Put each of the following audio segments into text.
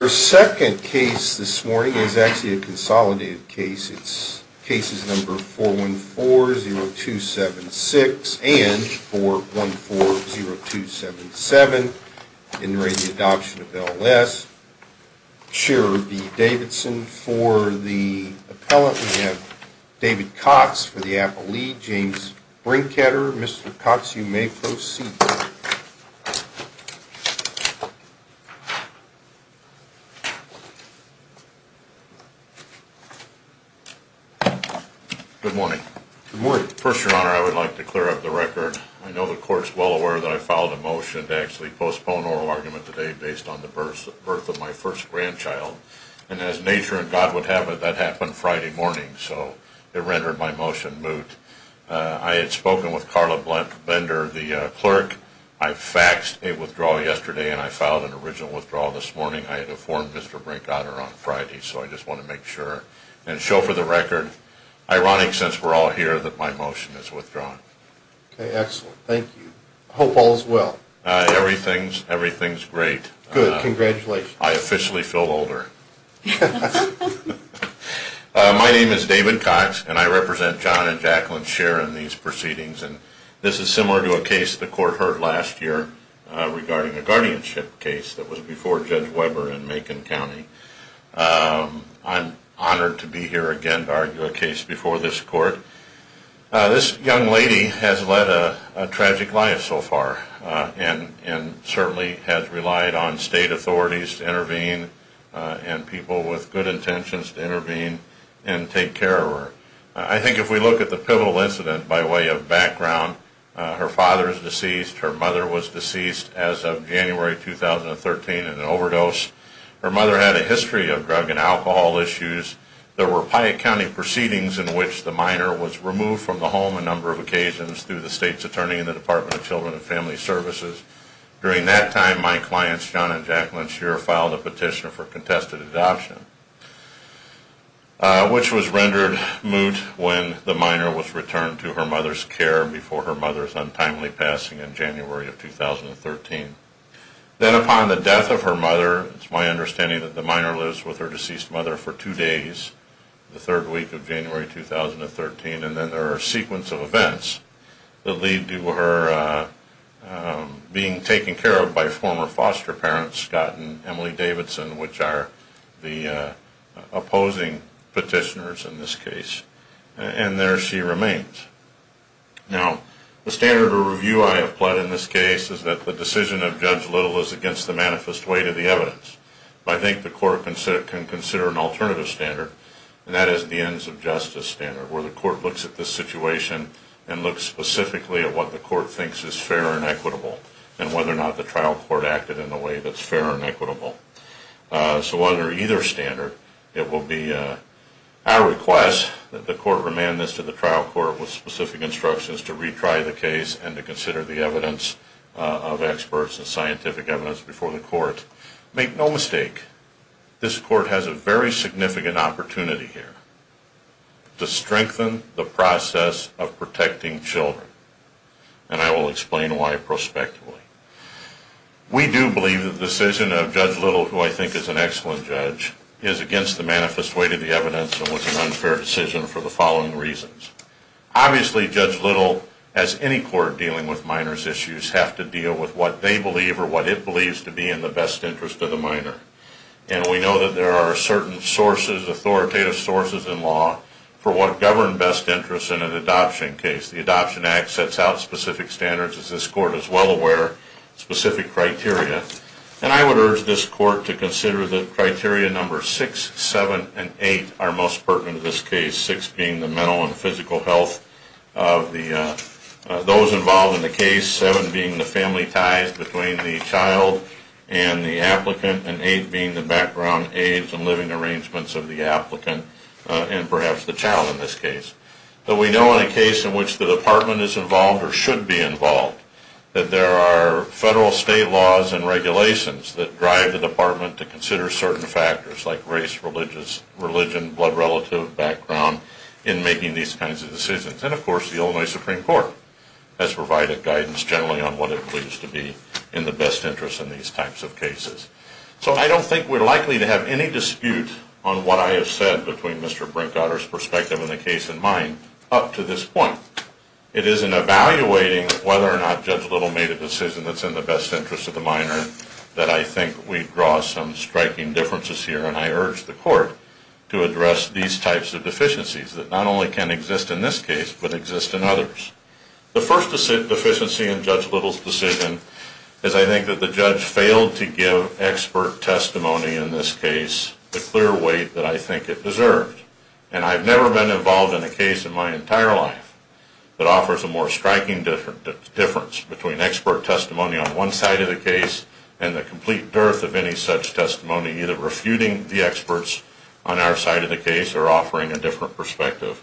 The second case this morning is actually a consolidated case. It's cases number 414-0276 and 414-0277 in re Adoption of L.S. Sherry B. Davidson for the appellant. We have David Cox for the appellee. James Brinkheader. Mr. Cox, you may proceed. Good morning. Good morning. First, Your Honor, I would like to clear up the record. I know the Court's well aware that I filed a motion to actually postpone oral argument today based on the birth of my first grandchild, and as nature and God would have it, that happened Friday morning, so it rendered my motion moot. I had spoken with Carla Bender, the clerk. I faxed a withdrawal yesterday, and I filed an original withdrawal this morning. I had informed Mr. Brinkheader on Friday, so I just want to make sure and show for the record, ironic since we're all here, that my motion is withdrawn. Okay, excellent. Thank you. I hope all is well. Everything's great. Good. Congratulations. I officially feel older. My name is David Cox, and I represent John and Jacqueline's share in these proceedings, and this is similar to a case the Court heard last year regarding a guardianship case that was before Judge Weber in Macon County. I'm honored to be here again to argue a case before this Court. This young lady has led a tragic life so far and certainly has relied on state authorities to intervene and people with good intentions to intervene and take care of her. I think if we look at the pivotal incident by way of background, her father is deceased, her mother was deceased as of January 2013 in an overdose. Her mother had a history of drug and alcohol issues. There were Piatt County proceedings in which the minor was removed from the home a number of occasions through the state's attorney in the Department of Children and Family Services. During that time, my clients, John and Jacqueline's share, filed a petition for contested adoption, which was rendered moot when the minor was returned to her mother's care before her mother's timely passing in January of 2013. Then upon the death of her mother, it's my understanding that the minor lives with her deceased mother for two days, the third week of January 2013, and then there are a sequence of events that lead to her being taken care of by former foster parents, Scott and Emily Davidson, which are the opposing petitioners in this case, and there she remains. Now, the standard of review I have pled in this case is that the decision of Judge Little is against the manifest weight of the evidence. I think the court can consider an alternative standard, and that is the ends of justice standard where the court looks at the situation and looks specifically at what the court thinks is fair and equitable and whether or not the trial court acted in a way that's fair and equitable. So under either standard, it will be our request that the court remand this to the trial court with specific instructions to retry the case and to consider the evidence of experts and scientific evidence before the court. Make no mistake, this court has a very significant opportunity here to strengthen the process of protecting children, and I will explain why prospectively. We do believe that the decision of Judge Little, who I think is an excellent judge, is against the manifest weight of the evidence and was an unfair decision for the following reasons. Obviously, Judge Little, as any court dealing with minors' issues, has to deal with what they believe or what it believes to be in the best interest of the minor, and we know that there are certain sources, authoritative sources in law, for what govern best interest in an adoption case. The Adoption Act sets out specific standards, as this court is well aware, specific criteria, and I would urge this court to consider that criteria number six, seven, and eight are most pertinent to this case, six being the mental and physical health of those involved in the case, seven being the family ties between the child and the applicant, and eight being the background, age, and living arrangements of the applicant, and perhaps the child in this case. But we know in a case in which the department is involved or should be involved, that there are federal, state laws and regulations that drive the department to consider certain factors like race, religion, blood relative, background in making these kinds of decisions, and of course the Illinois Supreme Court has provided guidance generally on what it believes to be in the best interest in these types of cases. So I don't think we're likely to have any dispute on what I have said between Mr. Brinkhotter's perspective and the case in mind up to this point. It is in evaluating whether or not Judge Little made a decision that's in the best interest of the minor that I think we draw some striking differences here, and I urge the court to address these types of deficiencies that not only can exist in this case but exist in others. The first deficiency in Judge Little's decision is I think that the judge failed to give expert testimony in this case the clear weight that I think it deserved, and I've never been involved in a case in my entire life that offers a more striking difference between expert testimony on one side of the case and the complete dearth of any such testimony, either refuting the experts on our side of the case or offering a different perspective.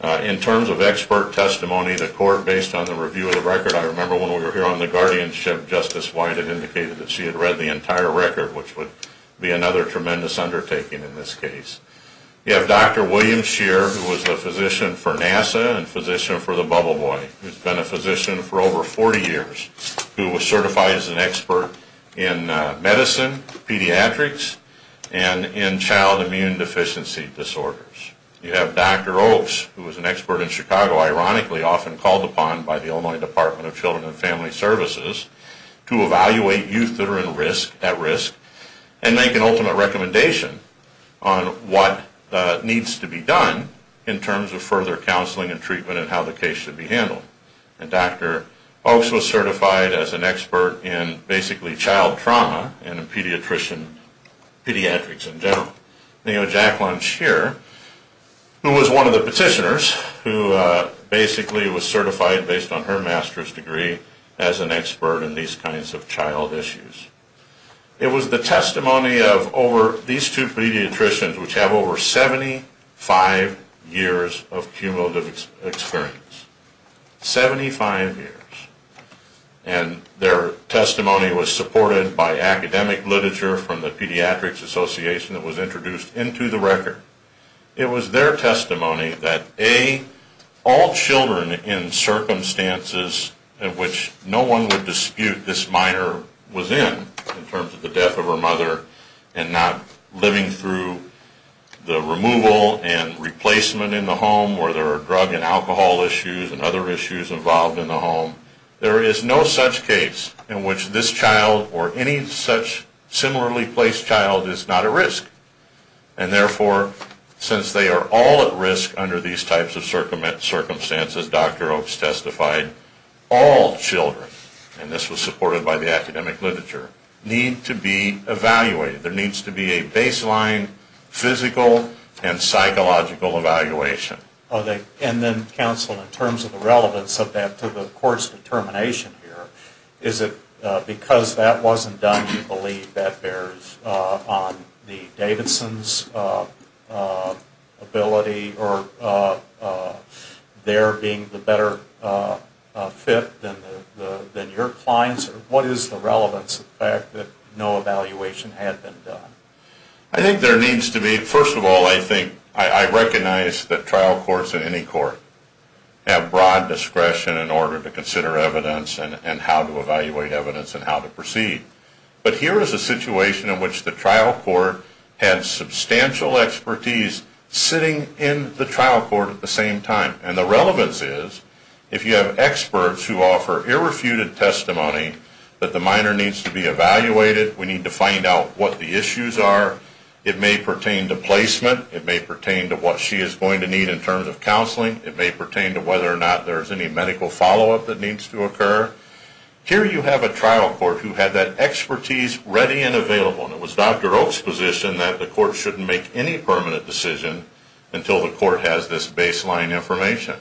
In terms of expert testimony, the court, based on the review of the record, I remember when we were here on the guardianship, Justice White had indicated that she had read the entire record, which would be another tremendous undertaking in this case. You have Dr. William Shear, who was a physician for NASA and physician for the Bubble Boy, who's been a physician for over 40 years, who was certified as an expert in medicine, pediatrics, and in child immune deficiency disorders. You have Dr. Oaks, who was an expert in Chicago, ironically often called upon by the Illinois Department of Children and Family Services to evaluate youth that are at risk and make an ultimate recommendation on what needs to be done in terms of further counseling and treatment and how the case should be handled. And Dr. Oaks was certified as an expert in, basically, child trauma and in pediatrics in general. And you have Jack Lunch here, who was one of the petitioners, who basically was certified based on her master's degree as an expert in these kinds of child issues. It was the testimony of over these two pediatricians, which have over 75 years of cumulative experience, 75 years, and their testimony was supported by academic literature from the Pediatrics Association that was introduced into the record. It was their testimony that, A, all children in circumstances in which no one would dispute this minor was in, in terms of the death of her mother, and not living through the removal and replacement in the home where there are drug and alcohol issues and other issues involved in the home, there is no such case in which this child or any such similarly placed child is not at risk. And therefore, since they are all at risk under these types of circumstances, Dr. Oaks testified, all children, and this was supported by the academic literature, need to be evaluated. There needs to be a baseline physical and psychological evaluation. And then, counsel, in terms of the relevance of that to the court's determination here, is it because that wasn't done, you believe that bears on the Davidson's ability or there being a better fit than your clients, or what is the relevance of the fact that no evaluation had been done? I think there needs to be, first of all, I think, I recognize that trial courts in any court have broad discretion in order to consider evidence and how to evaluate evidence and how to proceed. But here is a situation in which the trial court had substantial expertise sitting in the trial court at the same time. And the relevance is, if you have experts who offer irrefuted testimony that the minor needs to be evaluated, we need to find out what the issues are, it may pertain to placement, it may pertain to what she is going to need in terms of counseling, it may pertain to whether or not there is any medical follow-up that needs to occur. Here you have a trial court who had that expertise ready and available. And it was Dr. Oaks' position that the court shouldn't make any permanent decision until the court has this baseline information.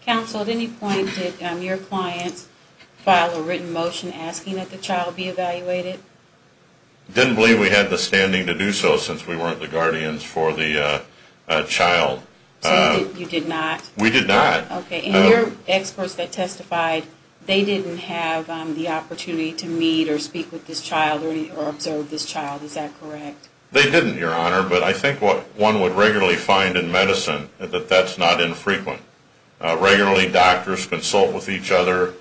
Counsel, at any point did your clients file a written motion asking that the child be evaluated? I didn't believe we had the standing to do so since we weren't the guardians for the child. So you did not? We did not. Okay. And your experts that testified, they didn't have the opportunity to meet or speak with this child or observe this child, is that correct? They didn't, Your Honor. But I think what one would regularly find in medicine is that that's not infrequent. Regularly doctors consult with each other,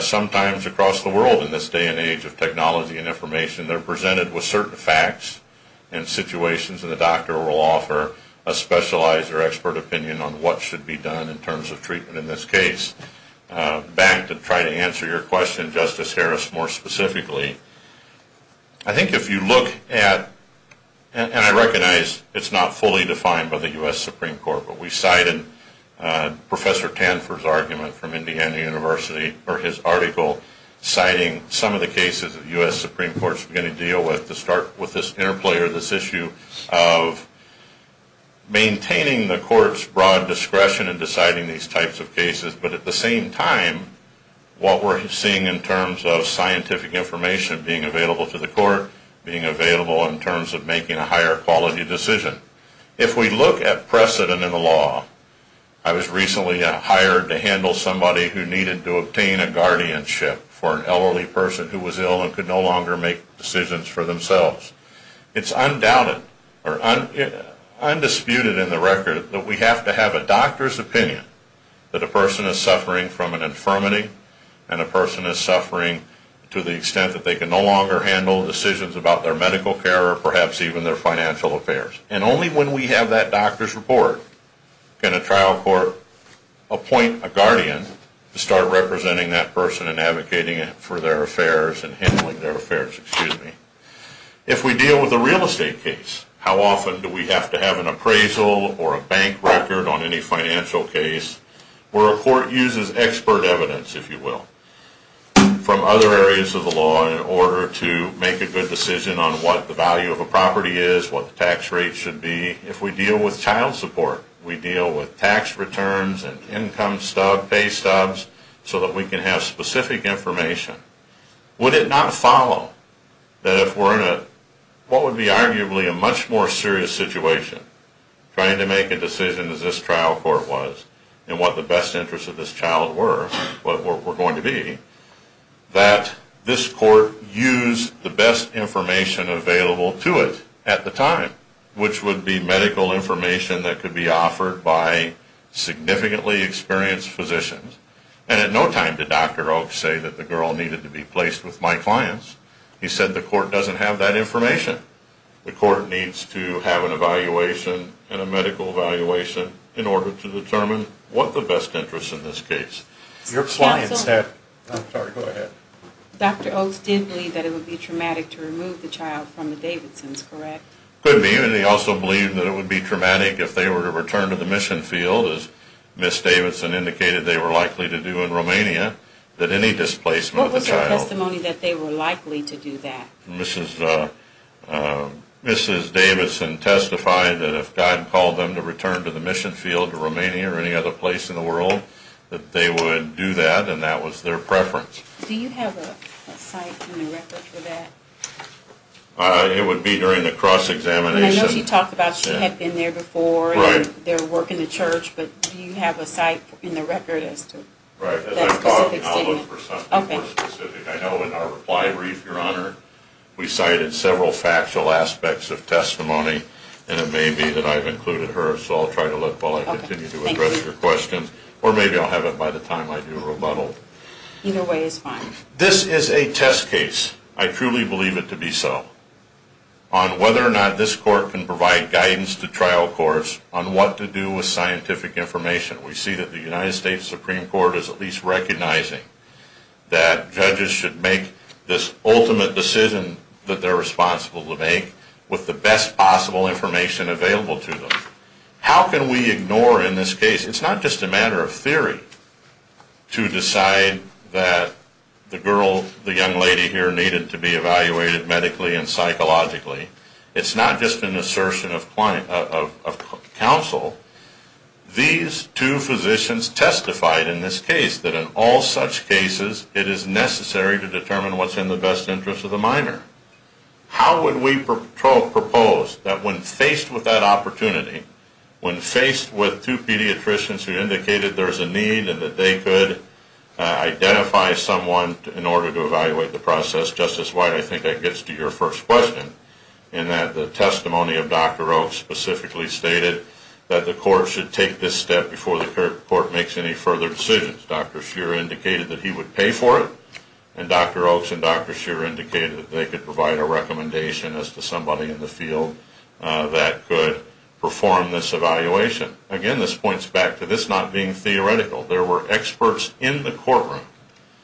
sometimes across the world in this day and age of technology and information. They're presented with certain facts and situations and the doctor will offer a specialized or expert opinion on what should be done in terms of treatment in this case. Back to try to answer your question, Justice Harris, more specifically, I think if you look at, and I recognize it's not fully defined by the U.S. Supreme Court, but we cited Professor Tanfor's argument from Indiana University or his article citing some of the cases that the U.S. Supreme Court is going to deal with to start with this interplay or this issue of maintaining the court's broad discretion in deciding these types of cases, but at the same time, what we're seeing in terms of scientific information being available to the court, being available in terms of making a higher quality decision. If we look at precedent in the law, I was recently hired to handle somebody who needed to obtain a guardianship for an elderly person who was ill and could no longer make decisions for themselves. It's undoubted or undisputed in the record that we have to have a doctor's opinion that a person is suffering from an infirmity and a person is suffering to the extent that they can no longer handle decisions about their medical care or perhaps even their financial affairs. And only when we have that doctor's report can a trial court appoint a guardian to start representing that person and advocating for their affairs and handling their affairs. If we deal with a real estate case, how often do we have to have an appraisal or a bank record on any financial case where a court uses expert evidence, if you will, from other areas of the law in order to make a good decision on what the value of a property is, what the tax rate should be? If we deal with child support, we deal with tax returns and income pay stubs so that we can have specific information, would it not follow that if we're in what would be arguably a much more serious situation, trying to make a decision as this trial court was and what the best interests of this child were, what we're going to be, that this court used the best information available to it at the time, which would be medical information that could be offered by significantly experienced physicians. And at no time did Dr. Oaks say that the girl needed to be placed with my clients. He said the court doesn't have that information. The court needs to have an evaluation and a medical evaluation in order to determine what the best interests in this case. Your clients have... I'm sorry, go ahead. Dr. Oaks did believe that it would be traumatic to remove the child from the Davidsons, correct? Could be. And he also believed that it would be traumatic if they were to return to the mission field, as Ms. Davidson indicated they were likely to do in Romania, that any displacement of the child... What was their testimony that they were likely to do that? That they were likely to do that, and that was their preference. Do you have a site and a record for that? It would be during the cross-examination. And I know she talked about she had been there before and their work in the church, but do you have a site and a record as to that specific statement? Right. As I talked, I'll look for something more specific. I know in our reply brief, Your Honor, we cited several factual aspects of testimony, and it may be that I've included her, so I'll try to look while I continue to evaluate. Thank you. Thank you. Thank you. Thank you. Thank you. Thank you. Thank you. Appreciate it. I'm very happy to address your questions. Or maybe I'll have it by the time I do a rebuttal. Either way is fine. This is a test case. I truly believe it to be so on whether or not this court can provide guidance to trial courts on what to do with scientific information. We see that the United States Supreme Court is at least recognizing that judges should make this ultimate decision that they're responsible to make with the best possible information available to them. How can we ignore in this case, it's not just a matter of theory to decide that the girl, the young lady here needed to be evaluated medically and psychologically. It's not just an assertion of counsel. These two physicians testified in this case that in all such cases it is necessary to determine what's in the best interest of the minor. How would we propose that when faced with that opportunity, when faced with two pediatricians who indicated there's a need and that they could identify someone in order to evaluate the process, Justice White, I think that gets to your first question, in that the testimony of Dr. Oaks specifically stated that the court should take this step before the court makes any further decisions. Dr. Shearer indicated that he would pay for it and Dr. Oaks and Dr. Shearer indicated that they could provide a recommendation as to somebody in the field that could perform this evaluation. Again, this points back to this not being theoretical. There were experts in the courtroom.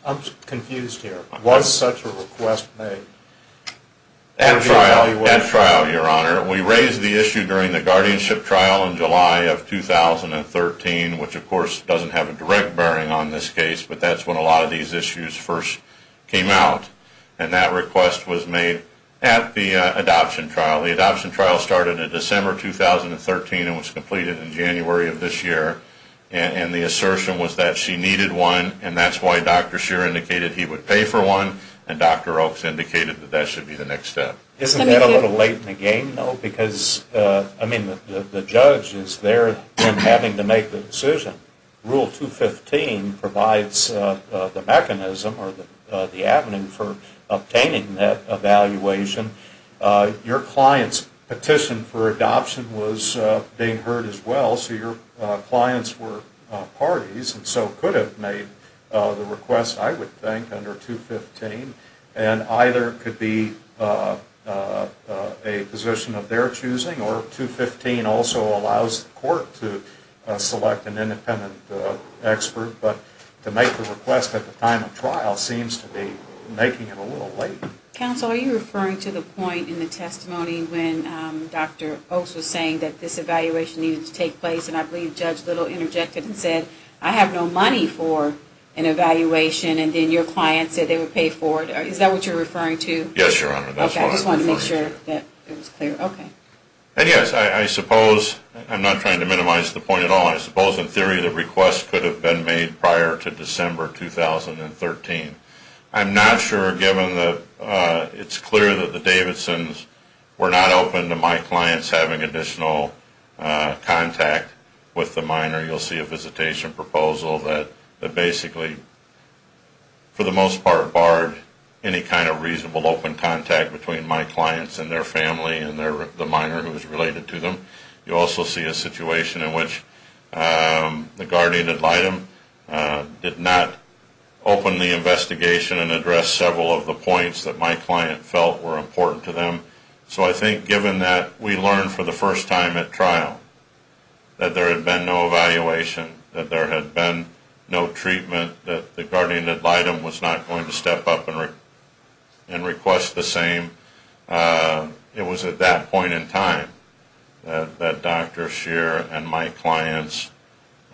I'm confused here. Was such a request made? At trial, Your Honor. We raised the issue during the guardianship trial in July of 2013, which of course doesn't have a direct bearing on this case, but that's when a lot of these issues first came out. And that request was made at the adoption trial. The adoption trial started in December 2013 and was completed in January of this year. And the assertion was that she needed one and that's why Dr. Shearer indicated he would pay for one and Dr. Oaks indicated that that should be the next step. Isn't that a little late in the game, though, because, I mean, the judge is there having to make the decision. Rule 215 provides the mechanism or the avenue for obtaining that evaluation. Your client's petition for adoption was being heard as well, so your clients were parties and so could have made the request, I would think, under 215. And either it could be a position of their choosing or 215 also allows the court to select an independent expert, but to make the request at the time of trial seems to be making it a little late. Counsel, are you referring to the point in the testimony when Dr. Oaks was saying that this evaluation needed to take place and I believe Judge Little interjected and said, I have no money for an evaluation and then your client said they would pay for it. Is that what you're referring to? Yes, Your Honor. That's what I'm referring to. Okay. I just wanted to make sure that it was clear. Okay. And yes, I suppose, I'm not trying to minimize the point at all. I suppose in theory the request could have been made prior to December 2013. I'm not sure given that it's clear that the Davidsons were not open to my clients having additional contact with the minor. You'll see a visitation proposal that basically, for the most part, barred any kind of reasonable open contact between my clients and their family and the minor who is related to them. You also see a situation in which the guardian ad litem did not open the investigation and address several of the points that my client felt were important to them. So I think given that we learned for the first time at trial that there had been no evaluation, that there had been no treatment, that the guardian ad litem was not going to step up and request the same. It was at that point in time that Dr. Scheer and my clients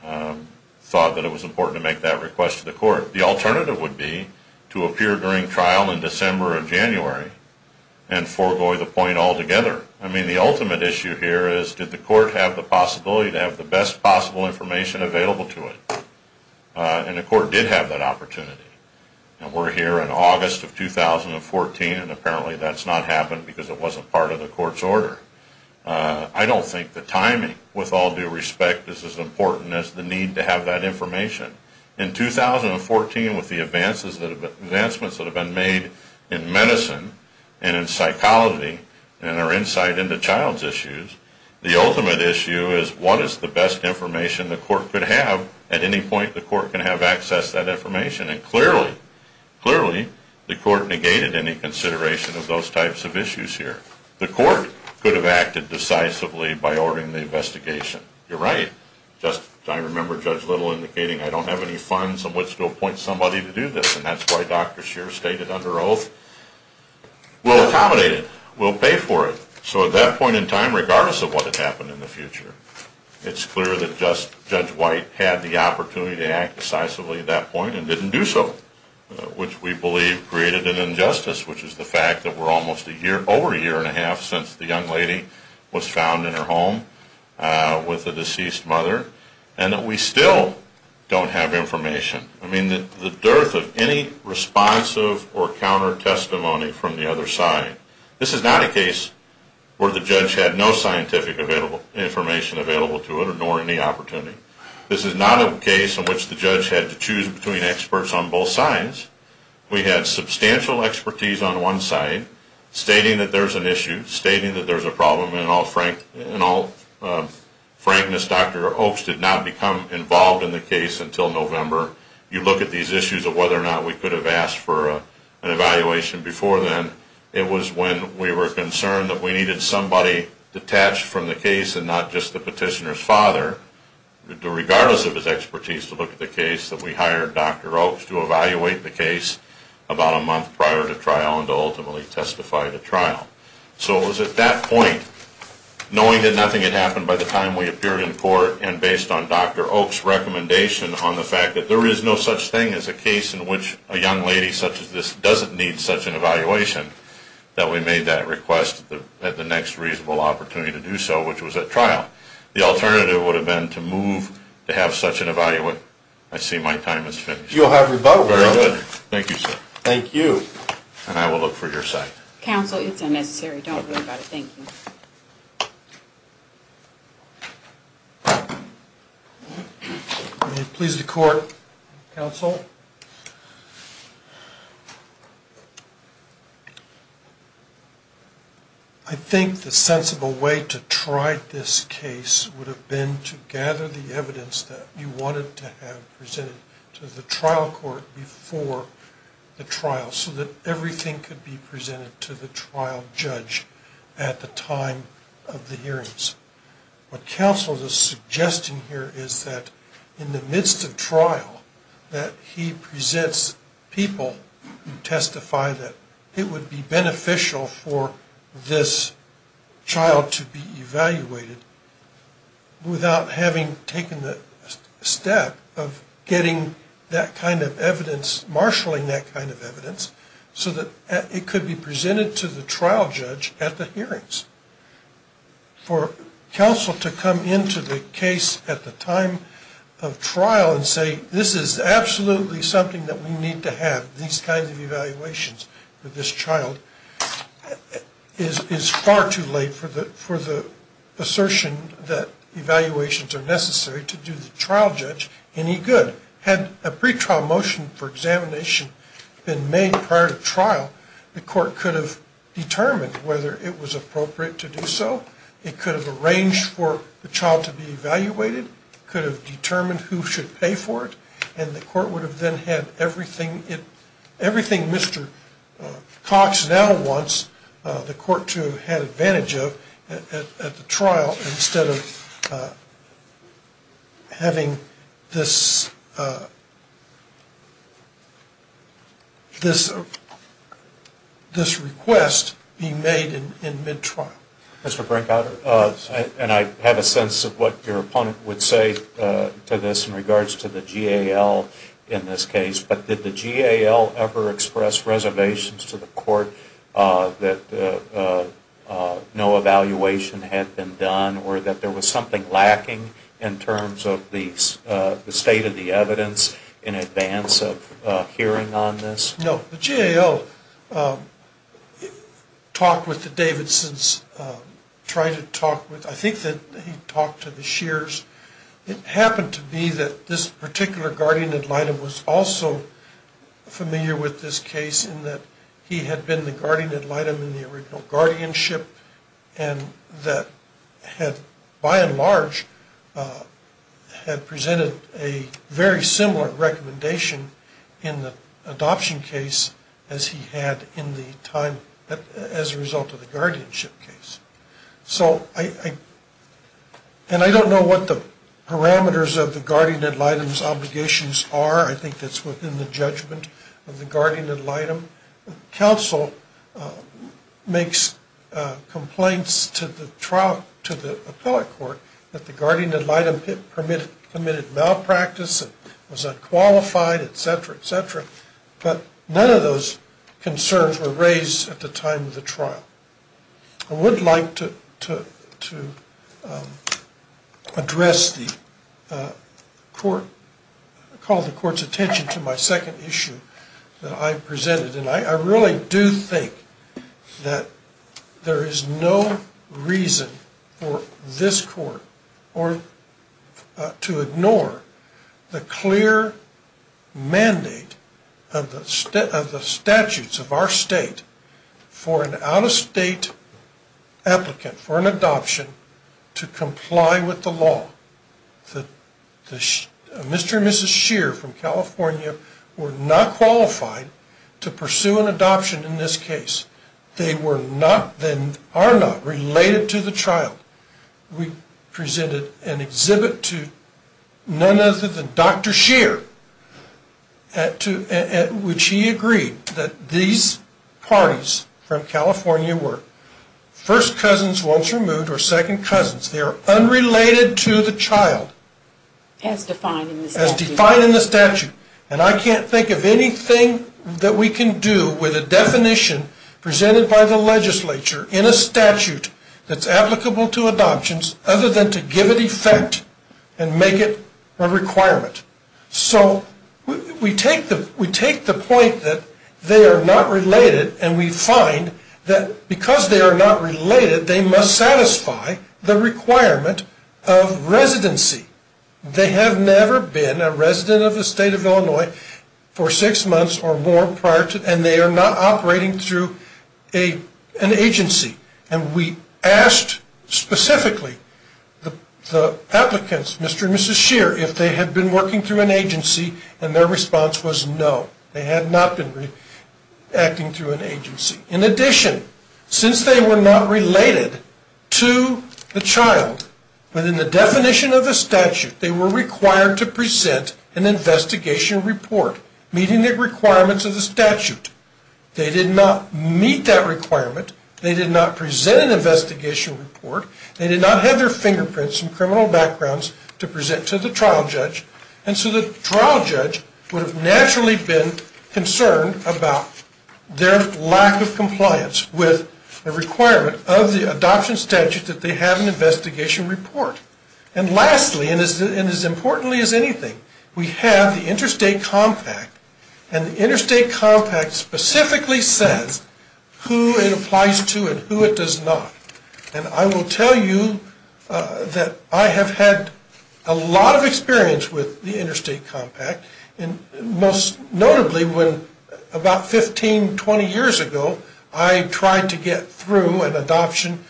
thought that it was important to make that request to the court. The alternative would be to appear during trial in December or January and forego the point altogether. I mean, the ultimate issue here is did the court have the possibility to have the best possible information available to it? And the court did have that opportunity. And we're here in August of 2014, and apparently that's not happened because it wasn't part of the court's order. I don't think the timing, with all due respect, is as important as the need to have that information. In 2014, with the advancements that have been made in medicine and in psychology and our insight into child's issues, the ultimate issue is what is the best information the Clearly, the court negated any consideration of those types of issues here. The court could have acted decisively by ordering the investigation. You're right. I remember Judge Little indicating, I don't have any funds on which to appoint somebody to do this. And that's why Dr. Scheer stated under oath, we'll accommodate it. We'll pay for it. So at that point in time, regardless of what had happened in the future, it's clear that Judge White had the opportunity to act decisively at that point and didn't do so, which we believe created an injustice, which is the fact that we're almost over a year and a half since the young lady was found in her home with the deceased mother, and that we still don't have information. I mean, the dearth of any responsive or counter-testimony from the other side. This is not a case where the judge had no scientific information available to it, nor any opportunity. This is not a case in which the judge had to choose between experts on both sides. We had substantial expertise on one side, stating that there's an issue, stating that there's a problem. In all frankness, Dr. Oaks did not become involved in the case until November. You look at these issues of whether or not we could have asked for an evaluation before then. It was when we were concerned that we needed somebody detached from the case and not just the petitioner's father, regardless of his expertise, to look at the case that we hired Dr. Oaks to evaluate the case about a month prior to trial and to ultimately testify to trial. So it was at that point, knowing that nothing had happened by the time we appeared in court and based on Dr. Oaks' recommendation on the fact that there is no such thing as a case in which a young lady such as this doesn't need such an evaluation, that we made that request at the next reasonable opportunity to do so, which was at trial. The alternative would have been to move to have such an evaluation. I see my time has finished. You'll have rebuttal. Very good. Thank you, sir. Thank you. And I will look for your side. Counsel, it's unnecessary. Don't worry about it. Thank you. May it please the Court. Counsel. I think the sensible way to try this case would have been to gather the evidence that you wanted to have presented to the trial court before the trial so that everything could be presented to the trial judge at the time of the hearings. What counsel is suggesting here is that in the midst of trial, that he presents people who testify that it would be beneficial for this child to be evaluated without having taken the step of getting that kind of evidence, marshalling that kind of evidence, so that it could be presented to the trial judge at the hearings. For counsel to come into the case at the time of trial and say, this is absolutely something that we need to have, these kinds of evaluations for this child, is far too late for the assertion that evaluations are necessary to do the trial judge any good. Had a pretrial motion for examination been made prior to trial, the court could have determined whether it was appropriate to do so. It could have arranged for the child to be evaluated. It could have determined who should pay for it. And the court would have then had everything Mr. Cox now wants the court to have had advantage of at the trial instead of having this request be made in mid-trial. Mr. Brinkhouder, and I have a sense of what your opponent would say to this in regards to the GAL in this case, but did the GAL ever express reservations to the court that no evaluation had been done or that there was something lacking in terms of the state of the evidence in advance of hearing on this? No, the GAL talked with the Davidsons, tried to talk with, I think that he talked to the Shears. It happened to be that this particular guardian ad litem was also familiar with this case in that he had been the guardian ad litem in the original guardianship and that had by and large had presented a very similar recommendation in the adoption case as he had in the time, as a result of the guardianship case. So I, and I don't know what the parameters of the guardian ad litem's obligations are. I think that's within the judgment of the guardian ad litem. Counsel makes complaints to the trial, to the appellate court that the guardian ad litem permitted malpractice, it was unqualified, et cetera, et cetera. But none of those concerns were raised at the time of the trial. I would like to address the court, call the court's attention to my second issue that I presented. And I really do think that there is no reason for this court to ignore the clear mandate of the statutes of our state for an out-of-state applicant for an adoption to comply with the law. Mr. and Mrs. Shear from California were not qualified to pursue an adoption in this case. They were not, they are not related to the trial. We presented an exhibit to none other than Dr. Shear at which he agreed that these parties from California were first cousins once removed or second cousins. They are unrelated to the child. As defined in the statute. As defined in the statute. And I can't think of anything that we can do with a definition presented by the legislature in a statute that's applicable to adoptions other than to give it effect and make it a requirement. So we take the point that they are not related and we find that because they are not related, they must satisfy the requirement of residency. They have never been a resident of the state of Illinois for six months or more prior to, and they are not operating through an agency. And we asked specifically the applicants, Mr. and Mrs. Shear, if they had been working through an agency and their response was no. They had not been acting through an agency. In addition, since they were not related to the child within the definition of the statute, they were required to present an investigation report meeting the requirements of the statute. They did not meet that requirement. They did not present an investigation report. They did not have their fingerprints and criminal backgrounds to present to the trial judge. And so the trial judge would have naturally been concerned about their lack of compliance with the requirement of the adoption statute that they have an investigation report. And lastly, and as importantly as anything, we have the Interstate Compact. And the Interstate Compact specifically says who it applies to and who it does not. And I will tell you that I have had a lot of experience with the Interstate Compact, and most notably when about 15, 20 years ago, I tried to get through an adoption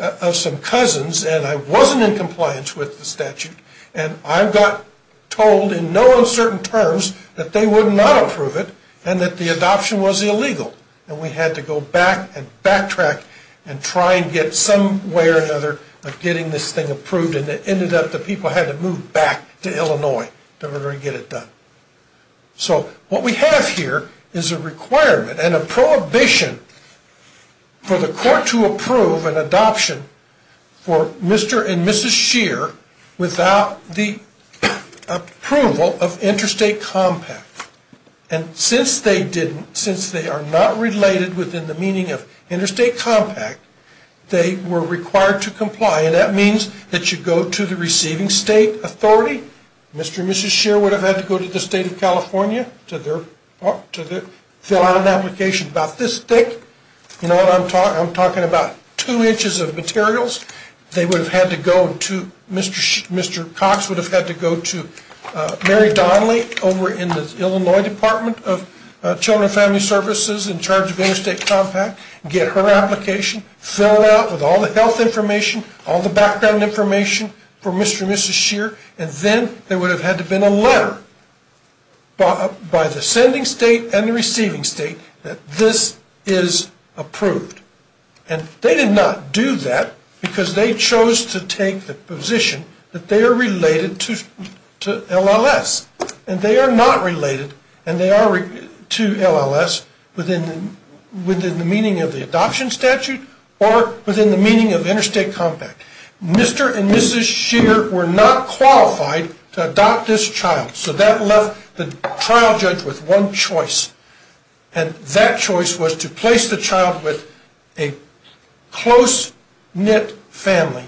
of some cousins and I wasn't in compliance with the statute. And I got told in no uncertain terms that they would not approve it and that the adoption was illegal. And we had to go back and backtrack and try and get some way or another of getting this thing approved. And it ended up that people had to move back to Illinois in order to get it done. So what we have here is a requirement and a prohibition for the court to approve an adoption for Mr. and Mrs. Scheer without the approval of Interstate Compact. And since they are not related within the meaning of Interstate Compact, they were required to comply. And that means that you go to the receiving state authority. Mr. and Mrs. Scheer would have had to go to the state of California to fill out an application about this thick. You know what I'm talking about? Two inches of materials. They would have had to go to Mr. Cox would have had to go to Mary Donnelly over in the Illinois Department of Children and Family Services in charge of Interstate Compact, get her application, fill it out with all the health information, all the background information for Mr. and Mrs. Scheer, and then there would have had to have been a letter by the sending state and the receiving state that this is approved. And they did not do that because they chose to take the position that they are related to LLS. And they are not related, and they are to LLS, within the meaning of the adoption statute or within the meaning of Interstate Compact. Mr. and Mrs. Scheer were not qualified to adopt this child, so that left the trial judge with one choice. And that choice was to place the child with a close-knit family,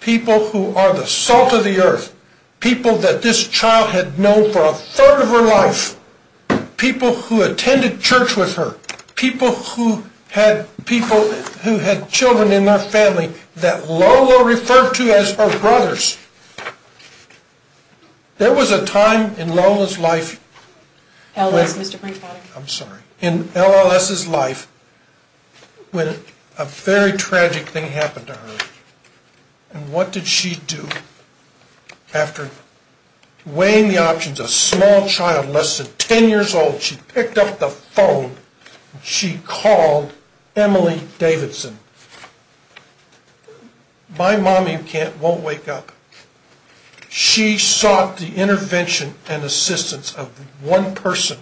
people who are the salt of the earth, people that this child had known for a third of her life, people who attended church with her, people who had children in their family that Lola referred to as her brothers. There was a time in Lola's life, in LLS's life, when a very tragic thing happened to her. And what did she do? After weighing the options, a small child, less than 10 years old, she picked up the phone. She called Emily Davidson. My mommy won't wake up. She sought the intervention and assistance of one person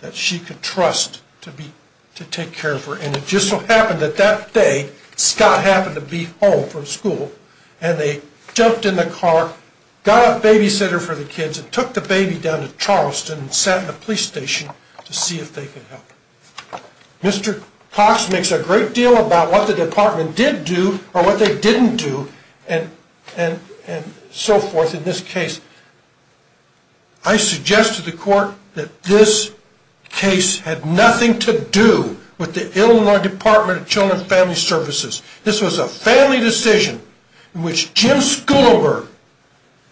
that she could trust to take care of her. And it just so happened that that day, Scott happened to be home from school, and they jumped in the car, got a babysitter for the kids, and took the baby down to Charleston and sat in the police station to see if they could help. Mr. Cox makes a great deal about what the department did do or what they didn't do and so forth in this case. I suggest to the court that this case had nothing to do with the Illinois Department of Children and Family Services. This was a family decision in which Jim Schooler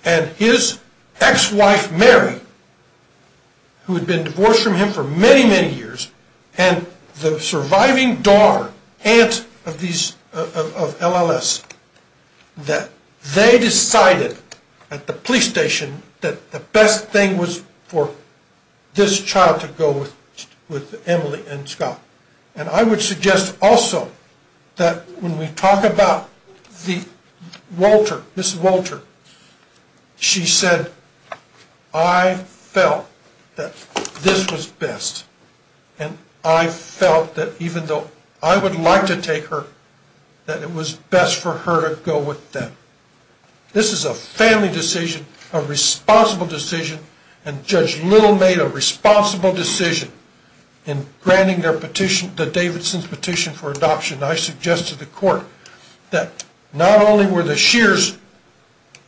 and his ex-wife Mary, who had been divorced from him for many, many years, and the surviving daughter, aunt of LLS, that they decided at the police station that the best thing was for this child to go with Emily and Scott. And I would suggest also that when we talk about Ms. Walter, she said, I felt that this was best, and I felt that even though I would like to take her, that it was best for her to go with them. This is a family decision, a responsible decision, and Judge Little made a responsible decision in granting the Davidson's petition for adoption. I suggest to the court that not only were the Shears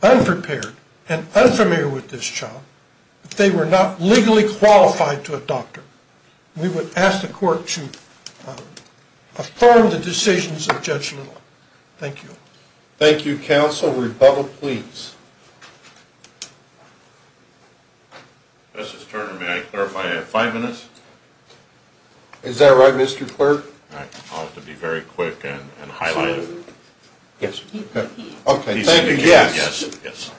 unprepared and unfamiliar with this child, but they were not legally qualified to adopt her. We would ask the court to affirm the decisions of Judge Little. Thank you. Thank you, counsel. Rebuttal, please. Justice Turner, may I clarify? I have five minutes. Is that right, Mr. Clerk? I'll have to be very quick and highlight it. Yes. Okay. Thank you. Yes, yes.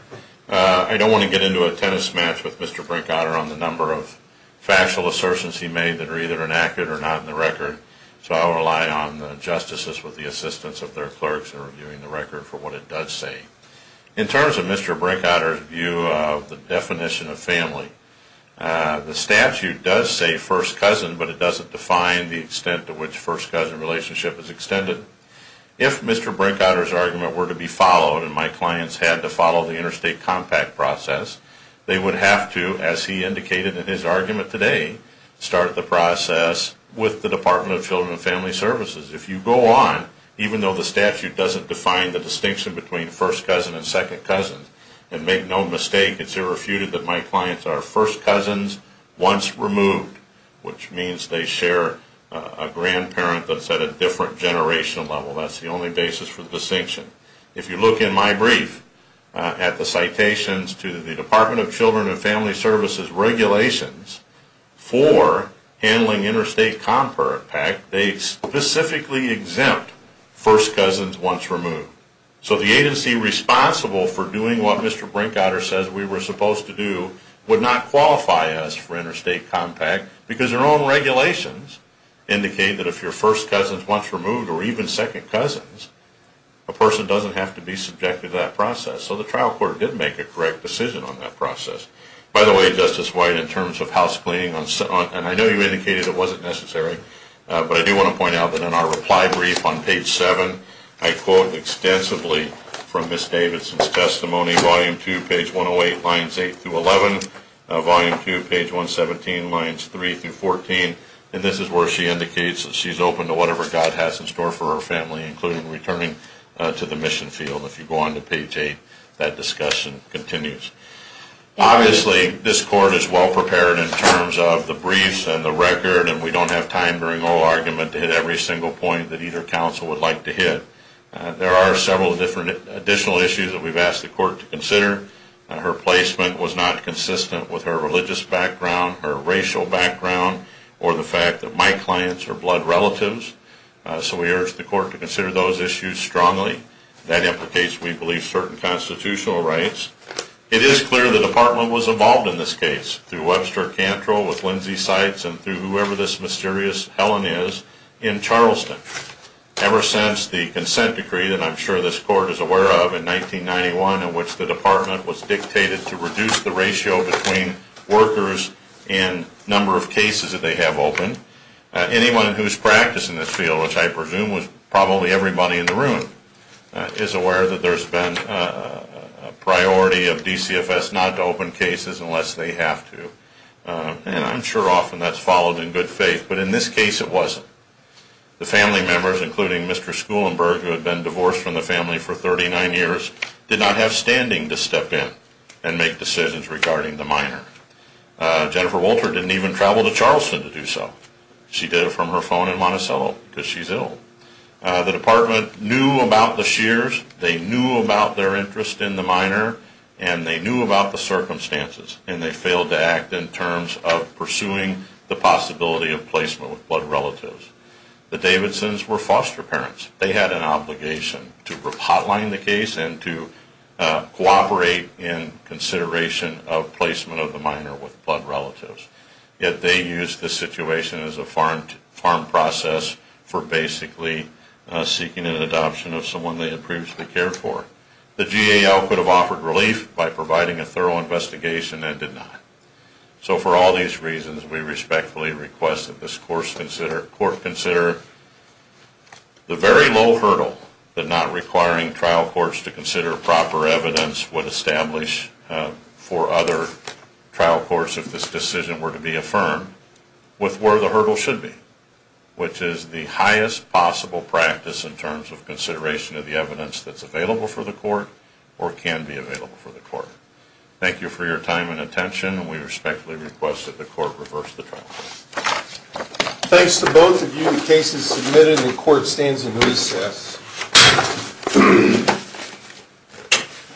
I don't want to get into a tennis match with Mr. Brinkodder on the number of factual assertions he made that are either inactive or not in the record, so I'll rely on the justices with the assistance of their clerks in reviewing the record for what it does say. In terms of Mr. Brinkodder's view of the definition of family, the statute does say first cousin, but it doesn't define the extent to which first cousin relationship is extended. If Mr. Brinkodder's argument were to be followed and my clients had to follow the interstate compact process, they would have to, as he indicated in his argument today, start the process with the Department of Children and Family Services. If you go on, even though the statute doesn't define the distinction between first cousin and second cousin, and make no mistake, it's irrefuted that my clients are first cousins once removed, which means they share a grandparent that's at a different generational level. That's the only basis for the distinction. If you look in my brief at the citations to the Department of Children and Family Services regulations for handling interstate compact, they specifically exempt first cousins once removed. So the agency responsible for doing what Mr. Brinkodder says we were supposed to do would not qualify us for interstate compact because their own regulations indicate that if you're first cousins once removed or even second cousins, a person doesn't have to be subjected to that process. So the trial court did make a correct decision on that process. By the way, Justice White, in terms of housecleaning, and I know you indicated it wasn't necessary, but I do want to point out that in our reply brief on page 7, I quote extensively from Ms. Davidson's testimony, volume 2, page 108, lines 8 through 11, volume 2, page 117, lines 3 through 14, and this is where she indicates that she's open to whatever God has in store for her family, including returning to the mission field. If you go on to page 8, that discussion continues. Obviously, this court is well prepared in terms of the briefs and the record, and we don't have time during oral argument to hit every single point that either counsel would like to hit. There are several additional issues that we've asked the court to consider. Her placement was not consistent with her religious background, her racial background, or the fact that my clients are blood relatives. So we urge the court to consider those issues strongly. That implicates, we believe, certain constitutional rights. It is clear the department was involved in this case. Through Webster Cantrell, with Lindsay Seitz, and through whoever this mysterious Helen is, in Charleston. Ever since the consent decree that I'm sure this court is aware of in 1991, in which the department was dictated to reduce the ratio between workers and number of cases that they have open, anyone who's practiced in this field, which I presume was probably everybody in the room, is aware that there's been a priority of DCFS not to open cases unless they have to. And I'm sure often that's followed in good faith, but in this case it wasn't. The family members, including Mr. Schulenberg, who had been divorced from the family for 39 years, did not have standing to step in and make decisions regarding the minor. Jennifer Wolter didn't even travel to Charleston to do so. She did it from her phone in Monticello, because she's ill. The department knew about the shears, they knew about their interest in the minor, and they knew about the circumstances. And they failed to act in terms of pursuing the possibility of placement with blood relatives. The Davidsons were foster parents. They had an obligation to hotline the case and to cooperate in consideration of placement of the minor with blood relatives. Yet they used the situation as a farm process for basically seeking an adoption of someone they had previously cared for. The GAL could have offered relief by providing a thorough investigation and did not. So for all these reasons, we respectfully request that this court consider the very low hurdle that not requiring trial courts to consider proper evidence would establish for other trial courts in terms of this decision were to be affirmed with where the hurdle should be, which is the highest possible practice in terms of consideration of the evidence that's available for the court or can be available for the court. Thank you for your time and attention. We respectfully request that the court reverse the trial. Thanks to both of you. The case is submitted and the court stands in recess.